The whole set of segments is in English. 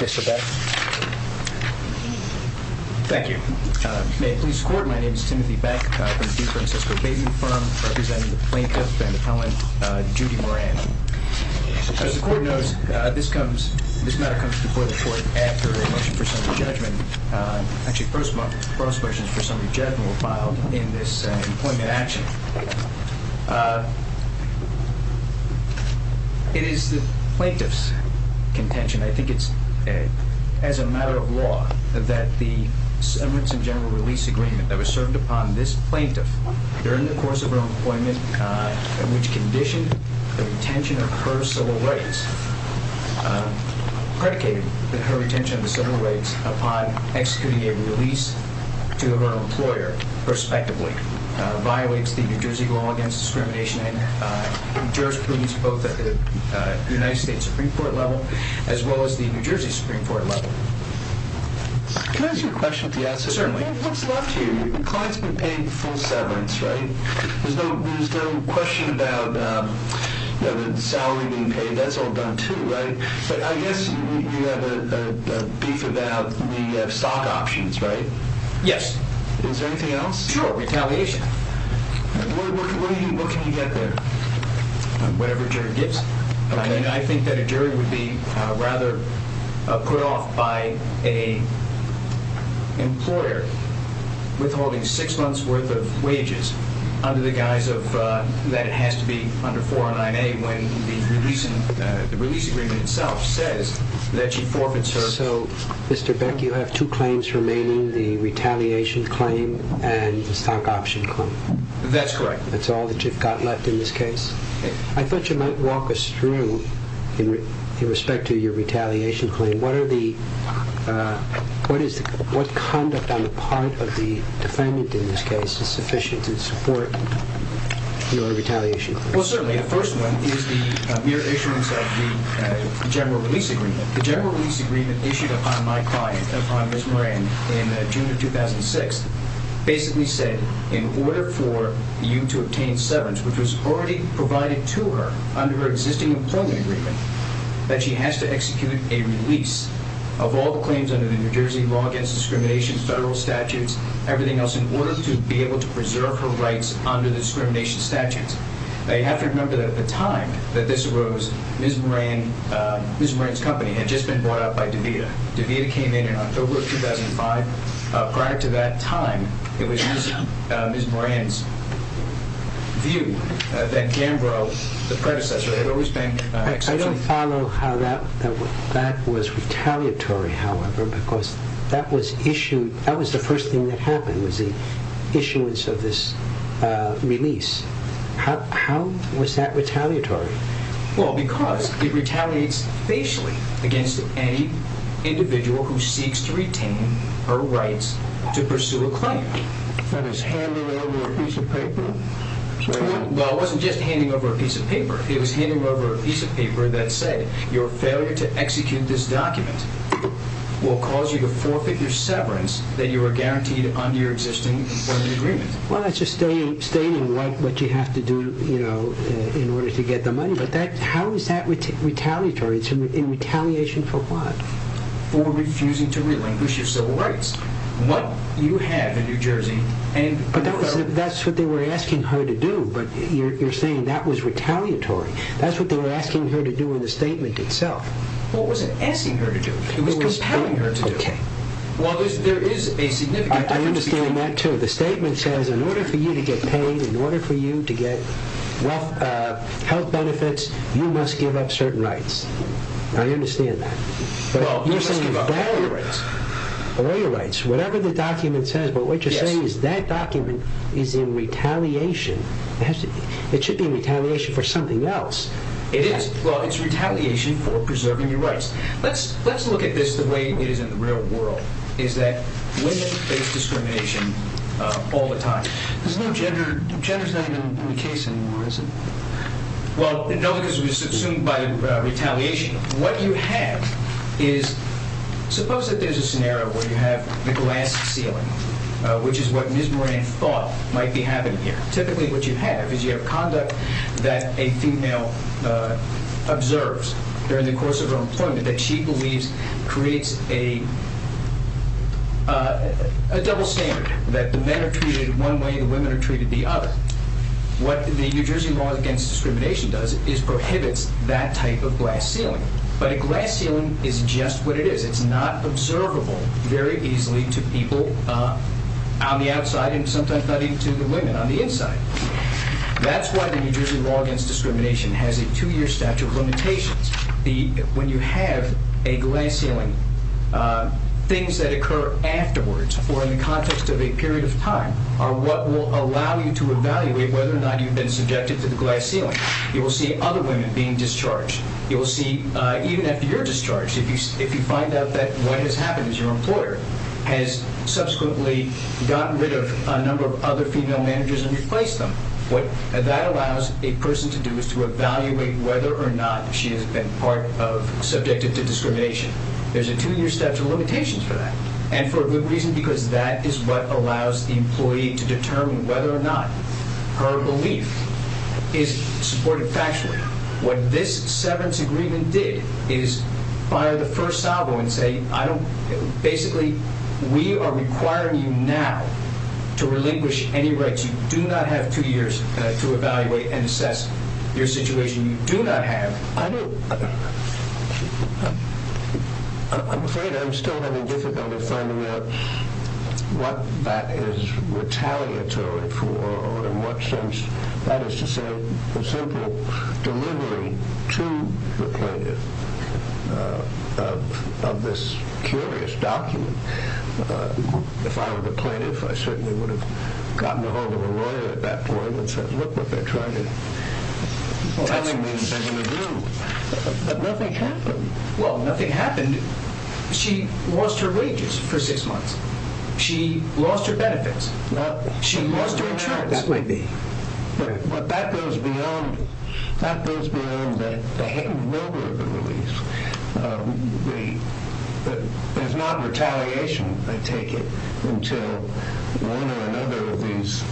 Mr. Beck? Thank you. May it please the court, my name is Timothy Beck from the Duke-Francisco Bateman firm, representing the Plaintiff and Appellant Judy Moran. As the court knows, this comes, this matter comes before the court after a motion for summary judgment, actually the first motion for summary judgment was filed in this employment action. It is the Plaintiff's contention, I think it's as a matter of law, that the severance and general release agreement that was served upon this Plaintiff during the course of her employment which conditioned the retention of her civil rights, predicated her retention of the civil rights and the release to her employer, respectively, violates the New Jersey law against discrimination in jurisprudence both at the United States Supreme Court level as well as the New Jersey Supreme Court level. Can I ask you a question? Certainly. What's left here? The client's been paid full severance, right? There's no question about the salary being paid, that's I guess you have a beef about the stock options, right? Yes. Is there anything else? Sure, retaliation. What can you get there? Whatever jury gets. I think that a jury would be rather put off by an employer withholding six months worth of wages under the guise that it has to be under 409A when the release agreement itself says that she forfeits her... So, Mr. Beck, you have two claims remaining, the retaliation claim and the stock option claim? That's correct. That's all that you've got left in this case? I thought you might walk us through, in respect to your retaliation claim, what conduct on the part of the defendant in this case is The first one is the mere issuance of the general release agreement. The general release agreement issued upon my client, upon Ms. Moran, in June of 2006, basically said in order for you to obtain severance, which was already provided to her under her existing employment agreement, that she has to execute a release of all the claims under the New Jersey law against discrimination, federal statutes, everything else in order to be able to preserve her rights under the discrimination statutes. You have to remember that at the time that this arose, Ms. Moran's company had just been bought out by DeVita. DeVita came in in October of 2005. Prior to that time, it was Ms. Moran's view that Gambro, the predecessor, had always been... I don't follow how that was retaliatory, however, because that was the first thing that happened, was the issuance of this release. How was that retaliatory? Well, because it retaliates facially against any individual who seeks to retain her rights to pursue a claim. That is handing over a piece of paper? Well, it wasn't just handing over a piece of paper. It was handing over a piece of paper that said, your failure to execute this document will cause you to forfeit your severance that you were guaranteed under your existing employment agreement. Well, that's just stating what you have to do in order to get the money, but how is that retaliatory? It's in retaliation for what? For refusing to relinquish your civil rights. What you have in New Jersey and in the federal... But that's what they were asking her to do, but you're saying that was retaliatory. That's what they were asking her to do in the statement itself. What was it asking her to do? It was compelling her to do it. Okay. Well, there is a significant difference between... I understand that too. The statement says, in order for you to get paid, in order for you to get health benefits, you must give up certain rights. I understand that. Well, you must give up all your rights. All your rights. Whatever the document says, but what you're saying is that document is in retaliation. It should be in retaliation for something else. It is. Well, it's retaliation for preserving your rights. Let's look at this the way it is in the real world, is that women face discrimination all the time. There's no gender... Gender's not even in the case anymore, is it? Well, no, because it was assumed by retaliation. What you have is... Suppose that there's a scenario where you have the glass ceiling, which is what Ms. Moran thought might be happening here. Typically, what you have is you have conduct that a female observes during the course of her employment that she believes creates a double standard, that the men are treated one way, the women are treated the other. What the New Jersey Law Against Discrimination does is prohibits that type of glass ceiling. But a glass ceiling is just what it is. It's not observable very easily to people on the outside and sometimes not even to the women on the inside. That's why the New Jersey Law Against Discrimination has a two-year statute of limitations. When you have a glass ceiling, things that occur afterwards or in the context of a period of time are what will allow you to evaluate whether or not you've been subjected to the glass ceiling. You will see other women being discharged. You will see, even after you're discharged, if you find out that what has happened is your employer has subsequently gotten rid of a number of other female managers and replaced them, what that allows a person to do is to evaluate whether or not she has been part of... Subjected to discrimination. There's a two-year statute of limitations for that. And for good reason, because that is what allows the employee to determine whether or not her belief is supported factually. What this severance agreement did is fire the first salvo and say, basically, we are requiring you now to relinquish any rights. You do not have two years to evaluate and assess your situation. You do not have... I'm afraid I'm still having difficulty finding out what that is retaliatory for, or in what sense. That is to say, the simple delivery to the plaintiff of this curious document. If I were the plaintiff, I certainly would have gotten ahold of a lawyer at that point that says, look what they're trying to tell me. But nothing happened. Well, nothing happened. She lost her wages for six months. She lost her benefits. She lost her insurance. But that goes beyond the head and shoulder of the release. There's not retaliation, I take it, until one or another of these...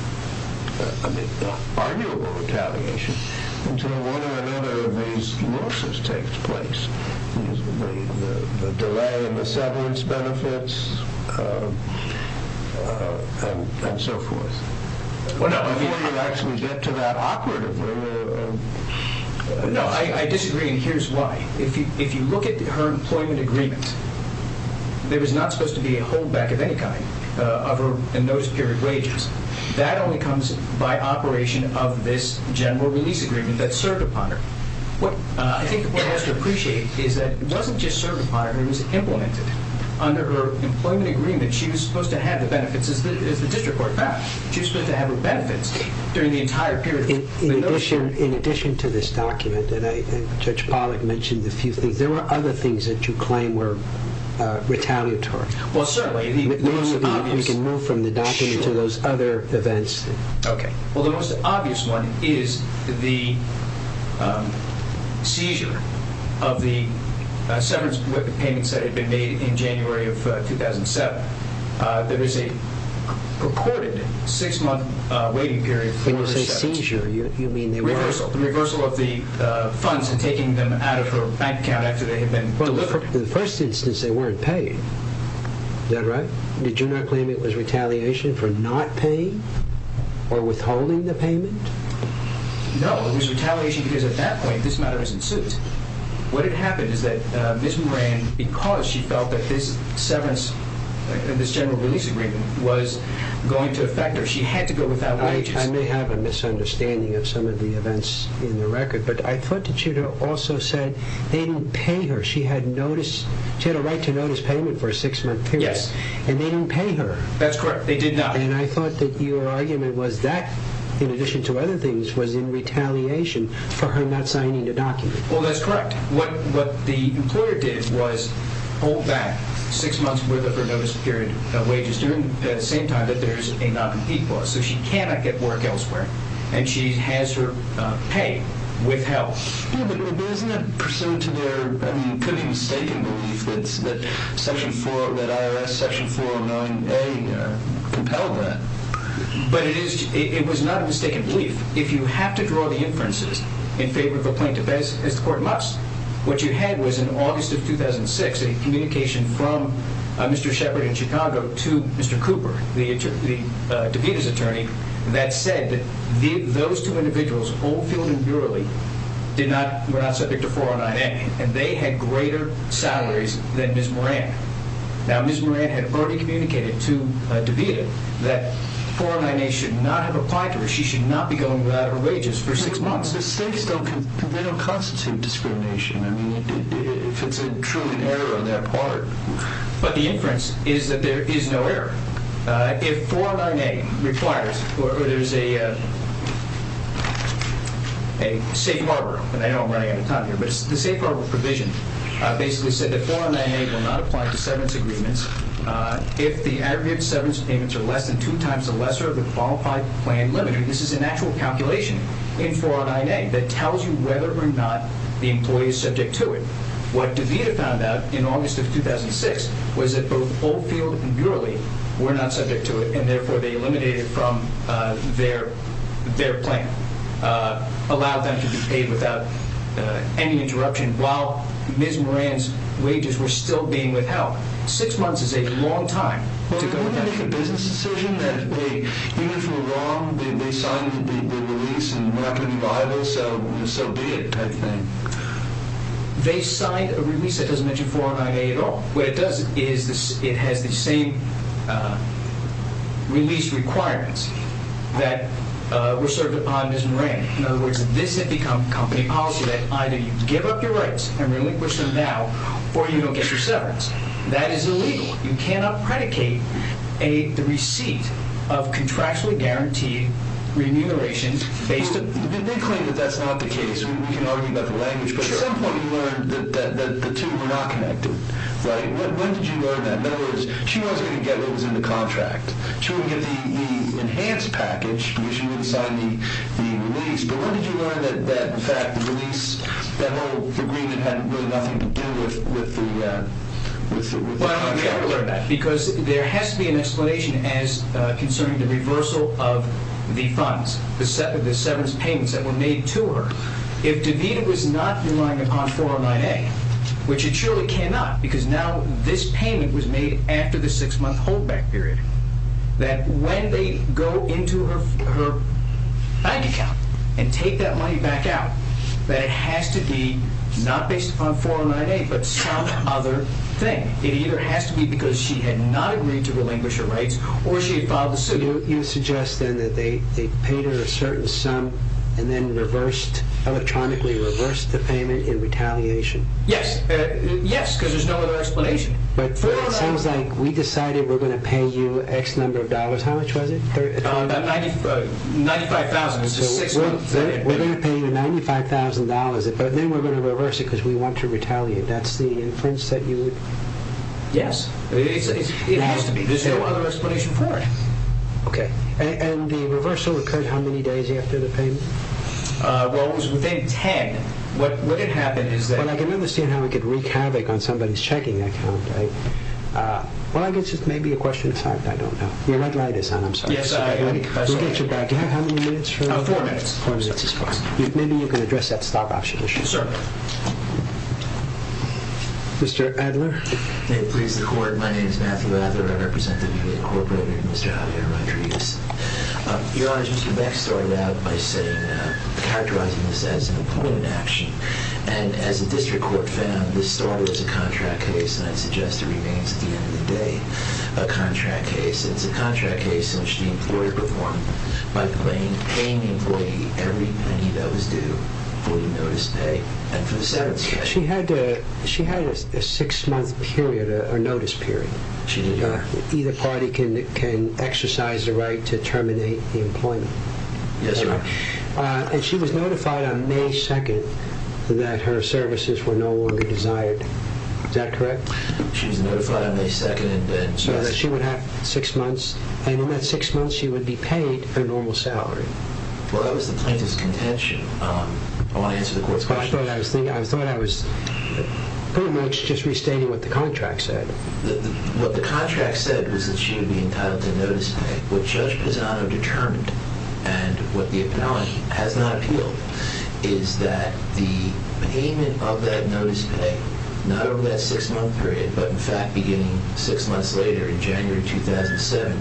arguable retaliation, until one or another of these losses takes place. The delay in the severance benefits, and so forth. Before you actually get to that operative... No, I disagree, and here's why. If you look at her employment agreement, there was not supposed to be a holdback of any kind of a notice period wages. That only comes by operation of this general release agreement that served upon her. What I think the court has to appreciate is that it wasn't just served upon her, it was implemented. Under her employment agreement, she was supposed to have the benefits, as the district court found. She was supposed to have her benefits during the entire period of the notice period. In addition to this document, and Judge Pollack mentioned a few things, there were other things that you claim were retaliatory. Well, certainly. We can move from the document to those other events. Well, the most obvious one is the seizure of the severance payments that had been made in January of 2007. There is a purported six-month waiting period for... When you say seizure, you mean... Reversal. The reversal of the funds and taking them out of her bank account after they had been delivered. Well, for the first instance, they weren't paid. Is that right? Did you not claim it for not paying or withholding the payment? No, it was retaliation because at that point this matter was in suit. What had happened is that Ms. Moran, because she felt that this general release agreement was going to affect her, she had to go without wages. I may have a misunderstanding of some of the events in the record, but I thought that you also said they didn't pay her. She had a right to notice payment for a six-month period. Yes. And they didn't pay her. That's correct. They did not. And I thought that your argument was that, in addition to other things, was in retaliation for her not signing the document. Well, that's correct. What the employer did was hold back six months' worth of her notice period wages at the same time that there is a non-compete clause. So she cannot get work elsewhere, and she has her pay withheld. Yes, but isn't that pursuant to their, I mean, it could be a mistaken belief that section 409A compelled that? But it was not a mistaken belief. If you have to draw the inferences in favor of a plaintiff, as the Court must, what you had was in August of 2006 a communication from Mr. Sheppard in Chicago to Mr. Cooper, the DeVita's attorney, that said that those two individuals, Oldfield and Burley, were not subject to 409A, and they had greater salaries than Ms. Moran. Now, Ms. Moran had already communicated to DeVita that 409A should not have applied to her. She should not be going without her wages for six months. But mistakes don't constitute discrimination. I mean, if it's a true error on their part. But the inference is that there is no error. If 409A requires, or there's a safe harbor, and I know I'm running out of time here, but the safe harbor provision basically said that 409A will not apply to severance agreements if the aggregate severance payments are less than two times the lesser of the qualified plan limit. This is an actual calculation in 409A that tells you whether or not the employee is subject to it. What DeVita found out in August of 2006 was that both Oldfield and Burley were not subject to it, and therefore they eliminated it from their plan. Allowed them to be paid without any interruption while Ms. Moran's wages were still being withheld. Six months is a long time to go without your wages. But wouldn't it make a business decision that even if we're wrong, they signed the release and we're not going to be liable, so be it, type thing? They signed a release that doesn't mention 409A at all. What it does is it has the same release requirements that were served upon Ms. Moran. In other words, this has become company policy that either you give up your rights and relinquish them now, or you don't get your severance. That is illegal. You cannot predicate the receipt of contractually guaranteed remuneration based on... They claim that that's not the case. We can argue about the language, but at some point you learned that the two were not connected, right? When did you learn that? In other words, she wasn't going to get what was in the contract. She wouldn't get the enhanced package because she wouldn't sign the release, but when did you learn that, in fact, the release, that whole agreement had really nothing to do with the contract? Well, we have to learn that because there has to be an explanation as concerning the reversal of the funds, the severance payments that were made to her. If DeVita was not relying upon 409A, which it surely cannot because now this payment was made after the six-month holdback period, that when they go into her bank account and take that money back out, that it has to be not based upon 409A, but some other thing. It either has to be because she had not agreed to relinquish her rights or she had filed a suit. So you're suggesting that they paid her a certain sum and then electronically reversed the payment in retaliation? Yes, because there's no other explanation. But it sounds like we decided we're going to pay you X number of dollars. How much was it? $95,000. So we're going to pay you $95,000, but then we're going to reverse it because we want to retaliate. That's the inference that you would... Yes. It has to be. There's no other explanation for it. Okay. And the reversal occurred how many days after the payment? Well, it was within 10. What had happened is that... Well, I can understand how it could wreak havoc on somebody's checking account, right? Well, I guess it's maybe a question of time. I don't know. Your red light is on. I'm sorry. We'll get you back. Do you have how many minutes? Four minutes. Four minutes is fine. Maybe you can address that stop option issue. Sir. Mr. Adler. May it please the court. My name is Matthew Adler. I represent WB Incorporated and Mr. Javier Rodriguez. Your Honor, Mr. Beck started out by saying, characterizing this as an employment action. And as the district court found, this started as a contract case, and I suggest it remains at the end of the day, a contract case. It's a contract case in which the employer performed by paying the employee every penny that was due for the notice pay and for the severance pay. She had a six-month period, a notice period. She did, Your Honor. Either party can exercise the right to terminate the employment. Yes, Your Honor. And she was notified on May 2nd that her services were no longer desired. Is that correct? She was notified on May 2nd and then... So that she would have six months, and in that six months she would be paid her normal salary. Well, that was the plaintiff's contention. I want to answer the court's question. I thought I was pretty much just restating what the contract said. What the contract said was that she would be entitled to notice pay. What Judge Pisano determined, and what the penalty has not appealed, is that the payment of that notice pay, not from that six-month period, but in fact beginning six months later in January 2007,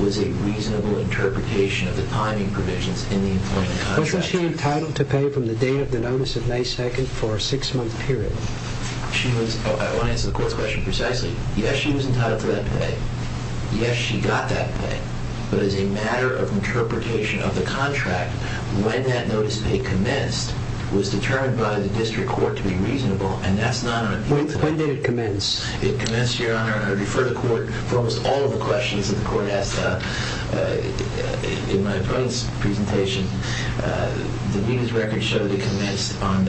was a reasonable interpretation of the timing provisions in the employment contract. Wasn't she entitled to pay from the day of the notice of May 2nd for a six-month period? I want to answer the court's question precisely. Yes, she was entitled to that pay. Yes, she got that pay. But as a matter of interpretation of the contract, when that notice pay commenced was determined by the district court to be reasonable, and that's not an appeal. When did it commence? It commenced, Your Honor. I refer the court for almost all of the questions that the court asked in my plaintiff's presentation. The media's records show that it commenced on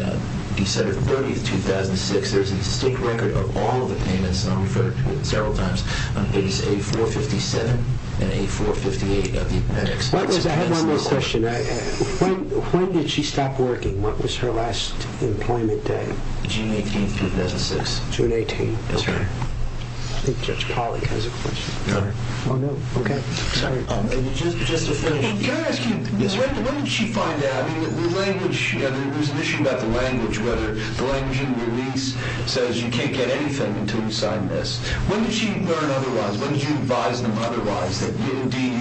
December 30th, 2006. There's a distinct record of all of the payments, and I've referred to it several times, on pages A457 and A458 of the appendix. I have one more question. When did she stop working? What was her last employment day? June 18th, 2006. June 18th. Okay. I think Judge Polley has a question. No. Oh, no. Okay. Sorry. Just to finish, can I ask you, what did she find out? I mean, the language, there was an issue about the language, whether the language in release says you can't get anything until you sign this. When did she learn otherwise? When did you advise them otherwise, that we will be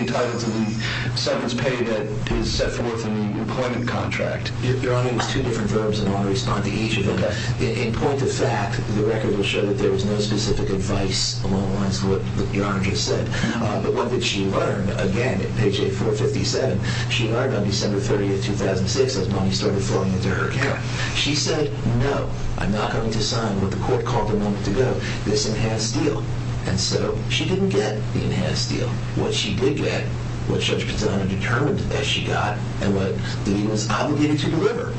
entitled to the severance pay that is set forth in the employment contract? Your Honor, it was two different verbs, and I want to respond to each of them. In point of fact, the record will show that there was no specific advice along the lines of what Your Honor just said. But what did she learn? Again, page A457, she learned on December 30th, 2006, as money started flowing into her account. She said, no, I'm not going to What she did get, what Judge Pizzanella determined that she got, and what he was obligated to deliver,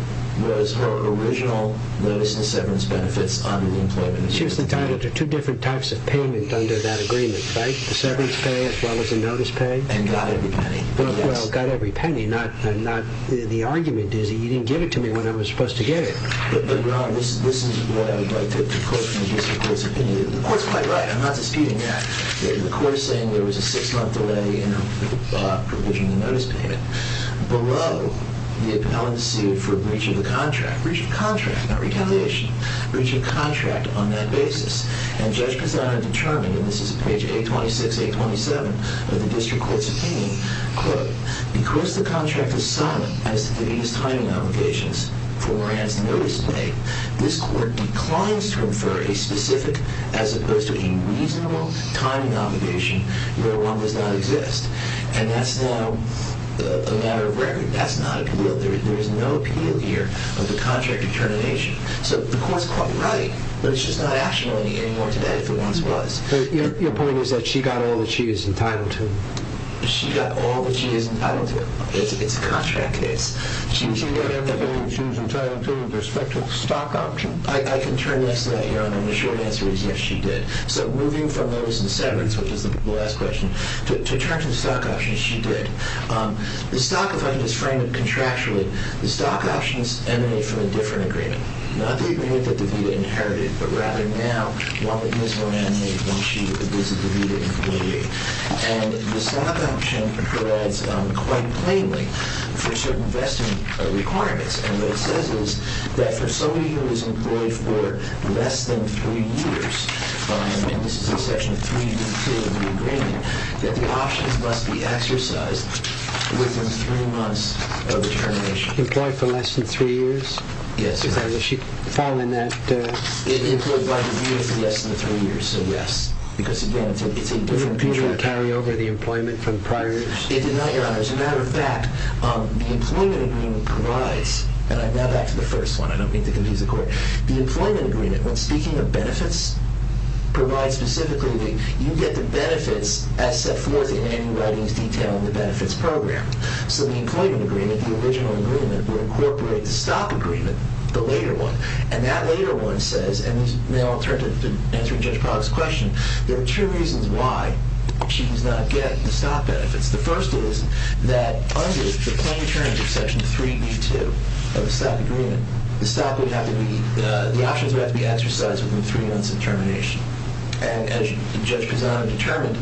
was her original notice and severance benefits under the employment agreement. She was entitled to two different types of payment under that agreement, right? The severance pay as well as the notice pay? And got every penny. Well, got every penny. The argument is that you didn't give it to me when I was supposed to get it. Your Honor, this is what I would like the court to give its opinion. The court's quite right, I'm not disputing that. The court is saying there was a six-month delay in provision of the notice payment. Below, the appellant sued for breach of the contract. Breach of contract, not retaliation. Breach of contract on that basis. And Judge Pizzanella determined, and this is page 826, 827 of the district court's opinion, quote, because the contract is silent as to the time obligations for Moran's notice pay, this court declines to confer a specific, as opposed to a reasonable, time obligation where one does not exist. And that's now a matter of record. That's not appealed. There is no appeal here of the contract determination. So the court's quite right, but it's just not actionable anymore today if it once was. Your point is that she got all that she was entitled to. She got all that she was entitled to. It's a contract case. She was entitled to with respect to the stock option. I can turn next to that, Your Honor, and the short answer is yes, she did. So moving from notice of severance, which is the last question, to terms of stock options, she did. The stock, if I can just frame it contractually, the stock options emanate from a different agreement. Not the agreement that DeVita inherited, but rather now one that Ms. Moran made when she visited DeVita in Hawaii. And the stock option provides, quite plainly, for certain vesting requirements. And what it says is that for somebody who is employed for less than three years, and this is in section three of the agreement, that the options must be exercised within three months of the termination. Employed for less than three years? Yes, Your Honor. Is she following that? Employed by DeVita for less than three years, so yes. Because, again, it's a different contract. Did DeVita carry over the employment from prior years? It did not, Your Honor. As a matter of fact, the employment agreement provides, and now back to the first one. I don't mean to confuse the court. The employment agreement, when speaking of benefits, provides specifically that you get the benefits as set forth in Annie Whiting's detail in the benefits program. So the employment agreement, the original agreement, would incorporate the stock agreement, the later one. And that later one says, and now I'll turn to answering Judge Proctor's question, there are two reasons why she does not get the stock benefits. The first is that under the plain terms of Section 3E2 of the stock agreement, the stock would have to be, the options would have to be exercised within three months of termination. And as Judge Pisano determined,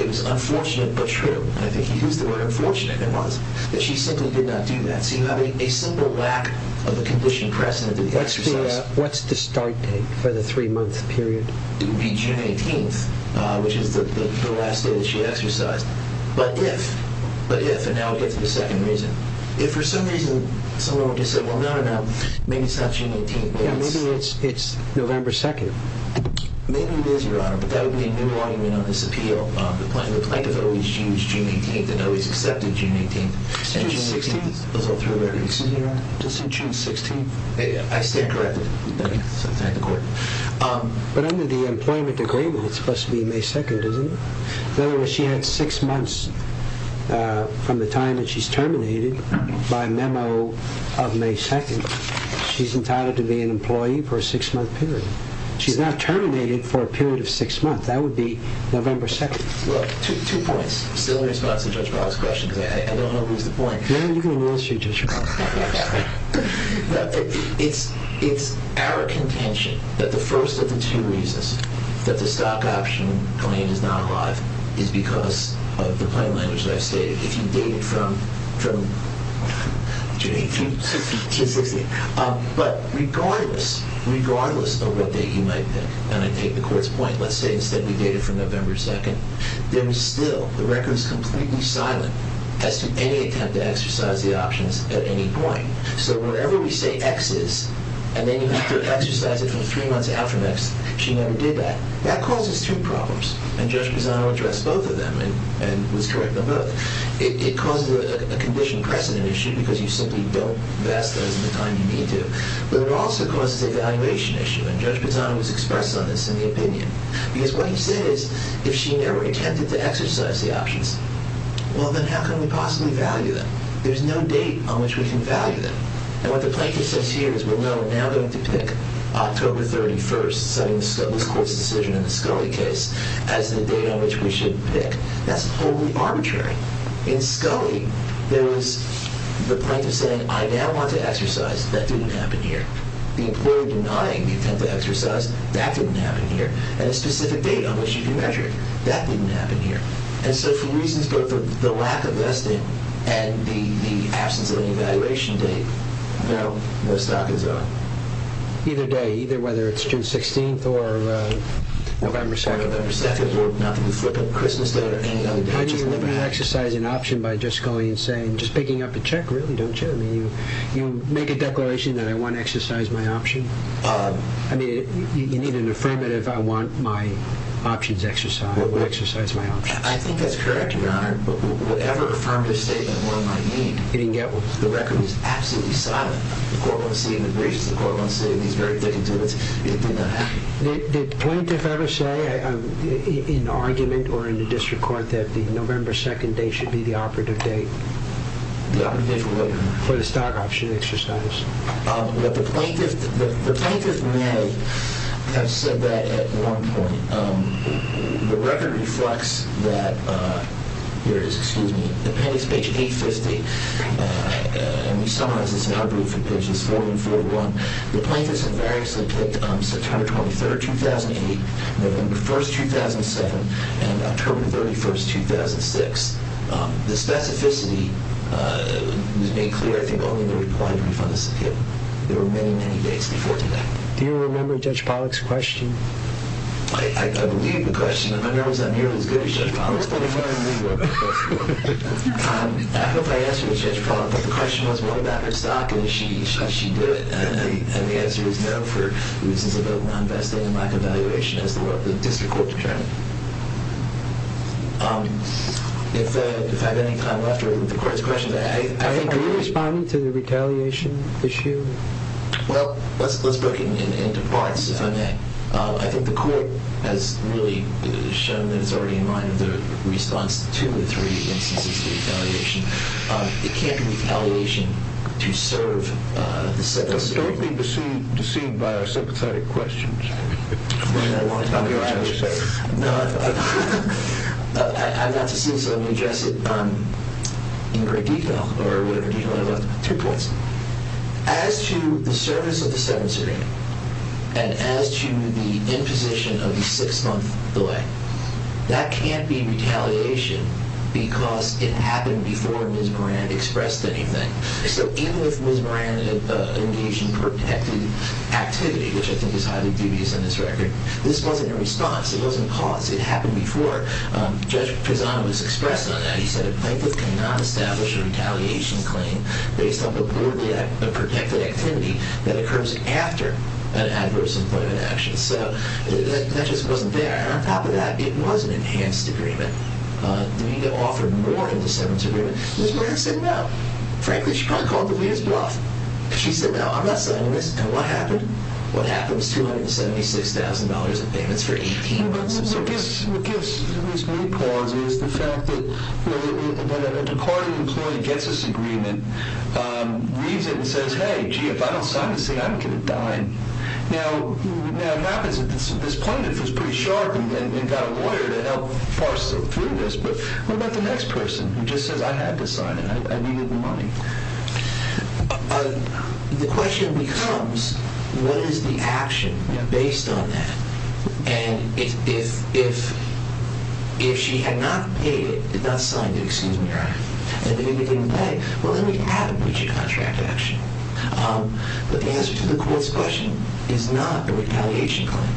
it was unfortunate but true, and I think he used the word unfortunate it was, that she simply did not do that. So you have a simple lack of a condition precedent for the exercise. What's the start date for the three-month period? It would be June 18th, which is the last day that she exercised. But if, but if, and now we get to the second reason, if for some reason someone were to say, well, no, no, maybe it's not June 18th. Yeah, maybe it's November 2nd. Maybe it is, Your Honor, but that would be a new argument on this appeal. The plaintiff always used June 18th and always accepted June 18th. It's June 16th. Excuse me, Your Honor? Just say June 16th. I stand corrected. Okay. So thank the court. But under the employment agreement, it's supposed to be May 2nd, isn't it? In other words, she had six months from the time that she's terminated by memo of May 2nd. She's entitled to be an employee for a six-month period. She's not terminated for a period of six months. That would be November 2nd. Well, two points. Still in response to Judge Boggs' question, because I don't know who's the point. No, you can announce it, Judge Boggs. It's our contention that the first of the two reasons that the stock option claim is not alive is because of the plain language that I've stated. If you date it from June 18th to 16th. But regardless, regardless of what date you might pick, and I take the court's point, let's say instead we date it from November 2nd, there is still, the record is completely silent as to any attempt to exercise the options at any point. So wherever we say X is, and then you have to exercise it from three months after X, she never did that. That causes two problems. And Judge Pisano addressed both of them and was correct on both. It causes a condition precedent issue because you simply don't vest those in the time you need to. But it also causes a valuation issue. And Judge Pisano has expressed on this in the opinion. Because what he said is, if she never attempted to exercise the options, well, then how can we possibly value them? There's no date on which we can value them. And what the plaintiff says here is we're now going to pick October 31st, citing this court's decision in the Scully case, as the date on which we should pick. That's totally arbitrary. In Scully, there was the plaintiff saying, I now want to exercise. That didn't happen here. The employer denying the attempt to exercise, that didn't happen here. And a specific date on which you can measure it, that didn't happen here. And so for reasons both of the lack of vesting and the absence of an evaluation date, no, no stock is on. Either day, either whether it's June 16th or November 2nd. Or November 2nd or nothing. We flip a Christmas date or any other date. I mean, we're never going to exercise an option by just going and saying, just picking up a check, really, don't you? I mean, you make a declaration that I want to exercise my option. I mean, you need an affirmative, I want my options exercised. We'll exercise my options. I think that's correct, Your Honor. Whatever affirmative statement one might need, the record is absolutely silent. The court won't say anything. The court won't say anything. He's very thick into it. It did not happen. Did the plaintiff ever say in argument or in the district court that the November 2nd date should be the operative date? The operative date for what? For the stock option exercise. The plaintiff may have said that at one point. The record reflects that, here it is, excuse me, appendix page 850. And we summarize this in our group for pages 4 and 4.1. The plaintiffs invariably picked September 23rd, 2008, November 1st, 2007, and October 31st, 2006. The specificity was made clear, I think, only in the reply brief on the subpoena. There were many, many dates before today. Do you remember Judge Pollack's question? I believe the question. I'm not nearly as good as Judge Pollack. I hope I answered it, Judge Pollack. But the question was, what about her stock? And did she do it? And the answer is no, for reasons of non-vesting and lack of valuation, as the district court determined. If I have any time left, or if the court has questions, I think we can respond. Are you responding to the retaliation issue? Well, let's break it into parts, if I may. I think the court has really shown that it's already in mind of the response to the three instances of retaliation. It can't be retaliation to serve the 7th Circuit. Don't be deceived by our sympathetic questions. I've learned that a long time ago, Judge. No, I've got to see this. Let me address it in great detail, or whatever detail I've got. Two points. As to the service of the 7th Circuit, and as to the imposition of the six-month delay, that can't be retaliation because it happened before Ms. Moran expressed anything. So even if Ms. Moran had engaged in protective activity, which I think is highly dubious on this record, this wasn't a response. It wasn't a cause. It happened before. Judge Pisano has expressed on that. He said a plaintiff cannot establish a retaliation claim based on a protected activity that occurs after an adverse employment action. So that just wasn't there. And on top of that, it was an enhanced agreement. The media offered more in the 7th Circuit. Ms. Moran said, no. Frankly, she probably called the leaders bluff. She said, no, I'm not signing this. And what happened? What happened was $276,000 in payments for 18 months of service. What gives me pause is the fact that when a Ducati employee gets this agreement, leaves it and says, hey, gee, if I don't sign this thing, I'm going to die. Now, what happens at this point, if it's pretty sharp and got a lawyer to help parse it through this, but what about the next person who just says, I had to sign it. I needed the money? The question becomes, what is the action based on that? And if she had not paid it, had not signed it, excuse me, and the media didn't pay, well, then we have a breach of contract action. But the answer to the court's question is not a retaliation claim.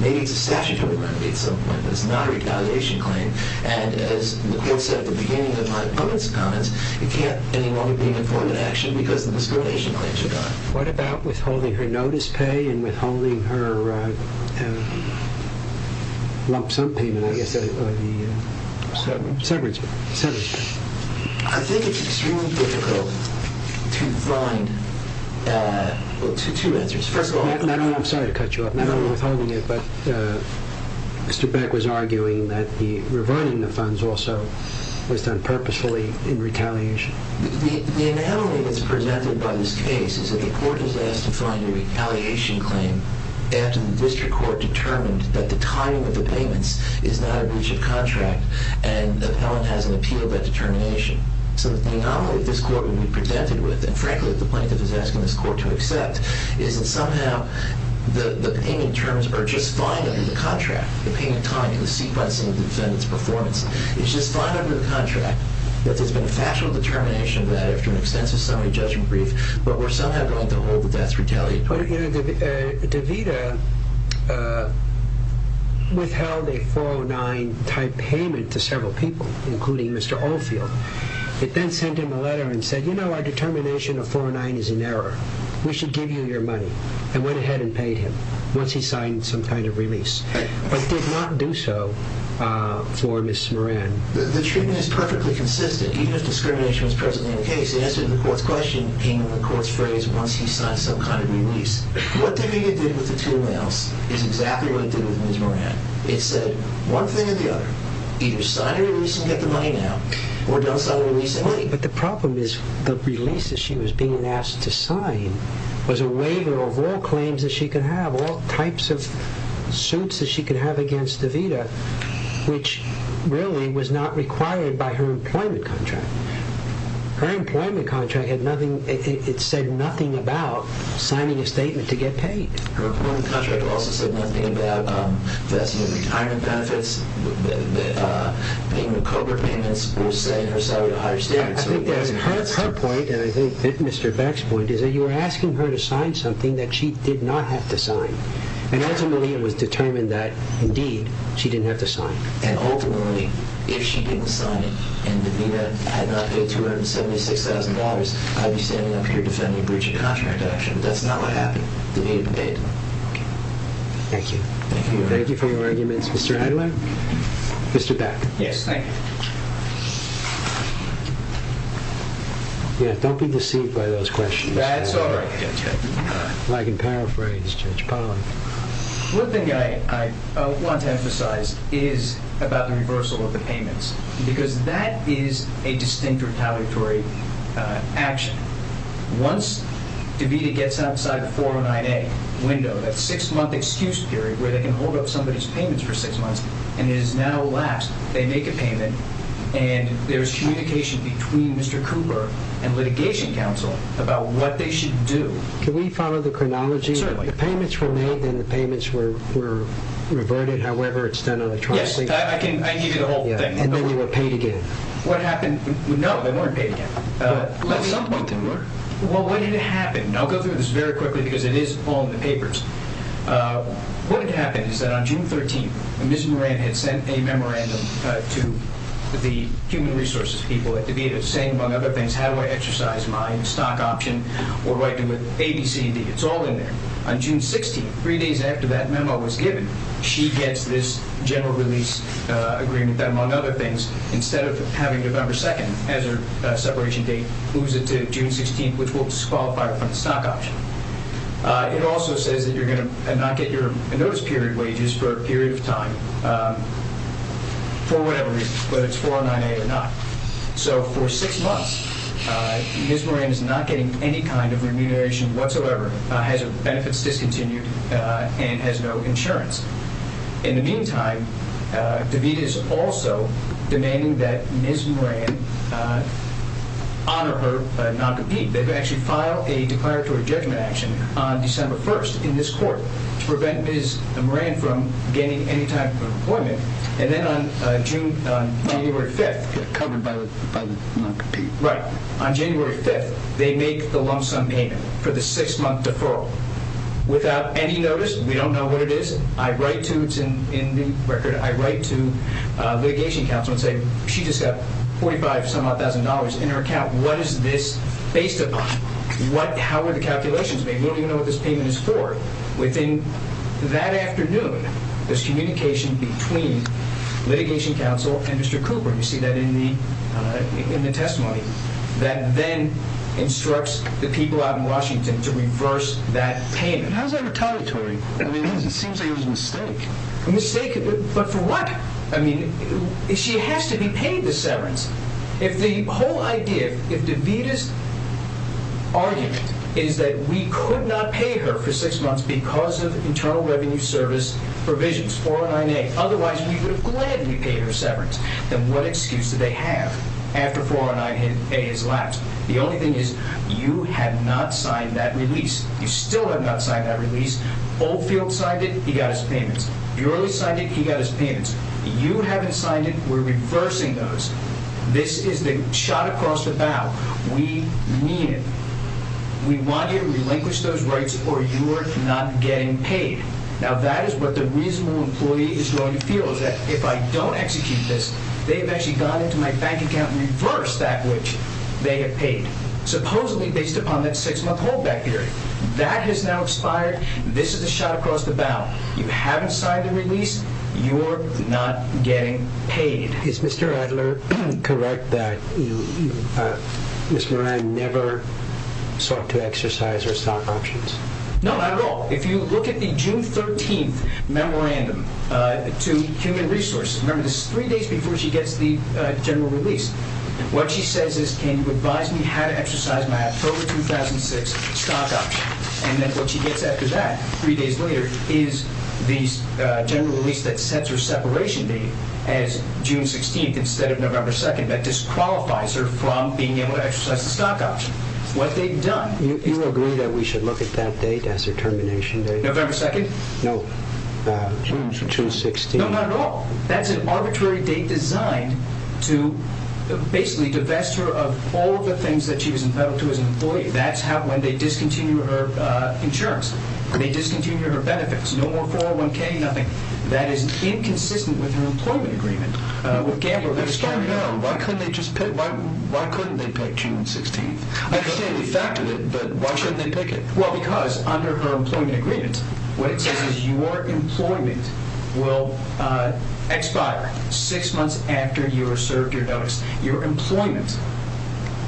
Maybe it's a statutory remedy at some point, but it's not a retaliation claim. And as the court said at the beginning of my opponent's comments, it can't any longer be an employment action because the discrimination claims are gone. What about withholding her notice pay and withholding her lump sum payment, I guess, or the severance pay? I think it's extremely difficult to find, well, two answers. First of all, I'm sorry to cut you off, not only withholding it, but Mr. Beck was arguing that the reviving the funds also was done purposefully in retaliation. The anomaly that's presented by this case is that the court is asked to find a retaliation claim after the district court determined that the timing of the payments is not a breach of contract and the appellant has an appeal of that determination. So the anomaly this court would be presented with, and frankly, the plaintiff is asking this court to accept, is that somehow the payment terms are just fine under the contract, the payment time and the sequencing of the defendant's performance. It's just fine under the contract that there's been a factual determination that after an extensive summary judgment brief, but we're somehow going to hold that that's retaliatory. DeVita withheld a 409-type payment to several people, including Mr. Oldfield. It then sent him a letter and said, you know, our determination of 409 is in error. We should give you your money, and went ahead and paid him once he signed some kind of release, but did not do so for Ms. Moran. The treatment is perfectly consistent. Even if discrimination was present in the case, the answer to the court's question came in the court's phrase, once he signed some kind of release. What DeVita did with the two males is exactly what he did with Ms. Moran. It said one thing or the other, either sign a release and get the money now or don't sign a release at all. But the problem is the release that she was being asked to sign was a waiver of all claims that she could have, of all types of suits that she could have against DeVita, which really was not required by her employment contract. Her employment contract had nothing, it said nothing about signing a statement to get paid. Her employment contract also said nothing about investment in retirement benefits, payment of COBRA payments. It was saying her salary would be higher. I think that's her point, and I think Mr. Beck's point, is that you were asking her to sign something that she did not have to sign. Ultimately, it was determined that, indeed, she didn't have to sign. Ultimately, if she didn't sign it and DeVita had not paid $276,000, I'd be standing up here defending a breach of contract action. That's not what happened. DeVita paid. Thank you. Thank you for your arguments, Mr. Adler. Mr. Beck. Yes, thank you. Yes, don't be deceived by those questions. That's all right. I can paraphrase Judge Pollack. One thing I want to emphasize is about the reversal of the payments because that is a distinct retaliatory action. Once DeVita gets outside the 409A window, that six-month excuse period where they can hold up somebody's payments for six months, and it is now last, they make a payment, and there's communication between Mr. Cooper and litigation counsel about what they should do. Can we follow the chronology? Certainly. The payments were made and the payments were reverted, however it's done on a trial basis. Yes, I can give you the whole thing. And then they were paid again. What happened? No, they weren't paid again. At some point they were. Well, what did happen? I'll go through this very quickly because it is all in the papers. What had happened is that on June 13th, Ms. Moran had sent a memorandum to the human resources people at DeVita saying, among other things, how do I exercise my stock option or what do I do with ABCD? It's all in there. On June 16th, three days after that memo was given, she gets this general release agreement that, among other things, instead of having November 2nd as her separation date, moves it to June 16th, which will disqualify her from the stock option. It also says that you're going to not get your notice period wages for a period of time for whatever reason, whether it's 409A or not. So for six months, Ms. Moran is not getting any kind of remuneration whatsoever, has her benefits discontinued, and has no insurance. In the meantime, DeVita is also demanding that Ms. Moran honor her non-compete. They've actually filed a declaratory judgment action on December 1st in this court to prevent Ms. Moran from getting any type of employment. And then on January 5th, they make the lump sum payment for the six-month deferral without any notice. We don't know what it is. In the record, I write to litigation counsel and say, she just got $45,000 in her account. What is this based upon? How are the calculations made? We don't even know what this payment is for. Within that afternoon, there's communication between litigation counsel and Mr. Cooper. You see that in the testimony. That then instructs the people out in Washington to reverse that payment. How is that retaliatory? It seems like it was a mistake. A mistake? But for what? She has to be paid the severance. If the whole idea, if DeVita's argument is that we could not pay her for six months because of Internal Revenue Service provisions, 409A, otherwise we would have gladly paid her severance, then what excuse do they have after 409A has lapsed? The only thing is, you have not signed that release. You still have not signed that release. Oldfield signed it, he got his payments. Burley signed it, he got his payments. You haven't signed it, we're reversing those. This is the shot across the bow. We need it. We want you to relinquish those rights or you're not getting paid. Now that is what the reasonable employee is going to feel, is that if I don't execute this, they have actually gone into my bank account and reversed that which they have paid, supposedly based upon that six-month holdback period. That has now expired. This is the shot across the bow. You haven't signed the release, you're not getting paid. Is Mr. Adler correct that Ms. Moran never sought to exercise her stock options? No, not at all. If you look at the June 13th memorandum to Human Resources, remember this is three days before she gets the general release, what she says is, can you advise me how to exercise my October 2006 stock option? And then what she gets after that, three days later, is the general release that sets her separation date as June 16th instead of November 2nd that disqualifies her from being able to exercise the stock option. What they've done is— You agree that we should look at that date as her termination date? November 2nd? No, June 16th. No, not at all. That's an arbitrary date designed to basically divest her of all the things that she was entitled to as an employee. That's when they discontinue her insurance. They discontinue her benefits. No more 401K, nothing. That is inconsistent with her employment agreement with Gambler. But starting now, why couldn't they pick June 16th? I understand the fact of it, but why shouldn't they pick it? Well, because under her employment agreement, what it says is your employment will expire six months after you are served your notice. Your employment.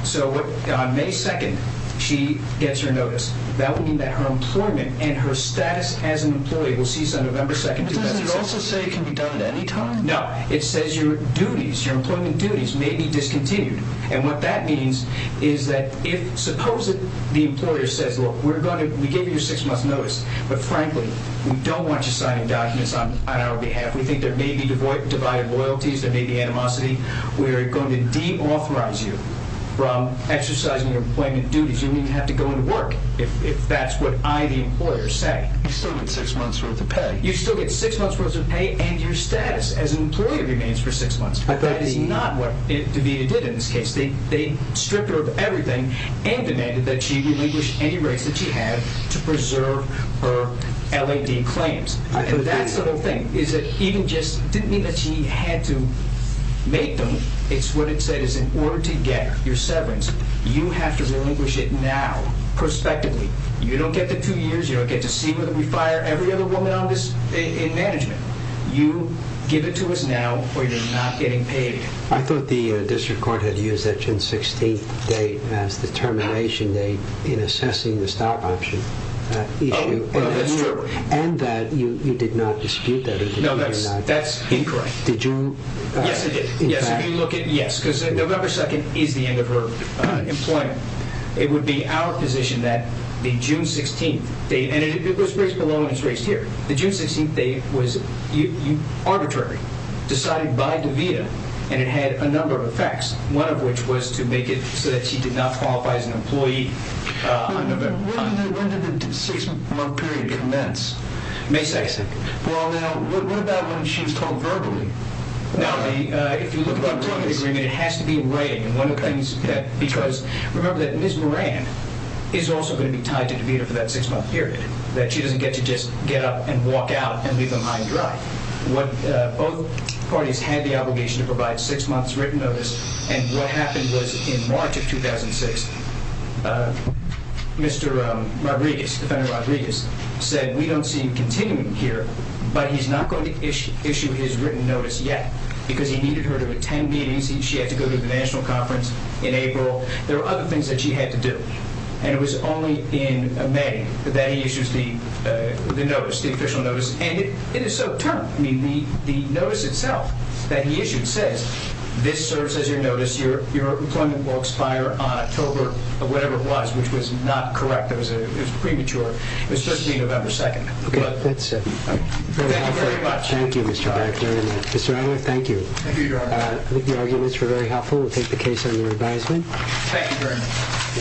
So on May 2nd, she gets her notice. That would mean that her employment and her status as an employee will cease on November 2nd. But doesn't it also say it can be done at any time? No, it says your duties, your employment duties, may be discontinued. And what that means is that if—suppose the employer says, look, we gave you your six-month notice, but frankly, we don't want you signing documents on our behalf. We think there may be divided loyalties, there may be animosity. We are going to deauthorize you from exercising your employment duties. You don't even have to go into work, if that's what I, the employer, say. You still get six months' worth of pay. You still get six months' worth of pay and your status as an employee remains for six months. But that is not what DeVita did in this case. They stripped her of everything and demanded that she relinquish any rights that she had to preserve her LAD claims. And that's the whole thing, is that even just—it didn't mean that she had to make them. It's what it said, is in order to get your severance, you have to relinquish it now, prospectively. You don't get the two years, you don't get to see whether we fire every other woman in management. You give it to us now or you're not getting paid. I thought the district court had used that June 16th date as the termination date in assessing the stop-option issue. Well, that's true. And that you did not dispute that? No, that's incorrect. Did you, in fact— Yes, I did. Yes, if you look at—yes, because November 2nd is the end of her employment. It would be our position that the June 16th date—and it was raised below and it's raised here. The June 16th date was arbitrary, decided by DeVita, and it had a number of effects, one of which was to make it so that she did not qualify as an employee on November— When did the six-month period commence? May 6th. Well, now, what about when she's told verbally? Now, if you look at our employment agreement, it has to be in writing. Because remember that Ms. Moran is also going to be tied to DeVita for that six-month period, that she doesn't get to just get up and walk out and leave them high and dry. Both parties had the obligation to provide six months' written notice, and what happened was in March of 2006, Mr. Rodriguez, Defendant Rodriguez, said, we don't see him continuing here, but he's not going to issue his written notice yet because he needed her to attend meetings. She had to go to the national conference in April. There were other things that she had to do. And it was only in May that he issues the notice, the official notice, and it is so termed. I mean, the notice itself that he issued says, this serves as your notice. Your employment will expire on October, or whatever it was, which was not correct. It was premature. It was supposed to be November 2nd. Okay, that's it. Thank you very much. Thank you, Mr. Baird. Mr. Adler, thank you. Thank you, Your Honor. I think your arguments were very helpful. We'll take the case under advisement. Thank you very much.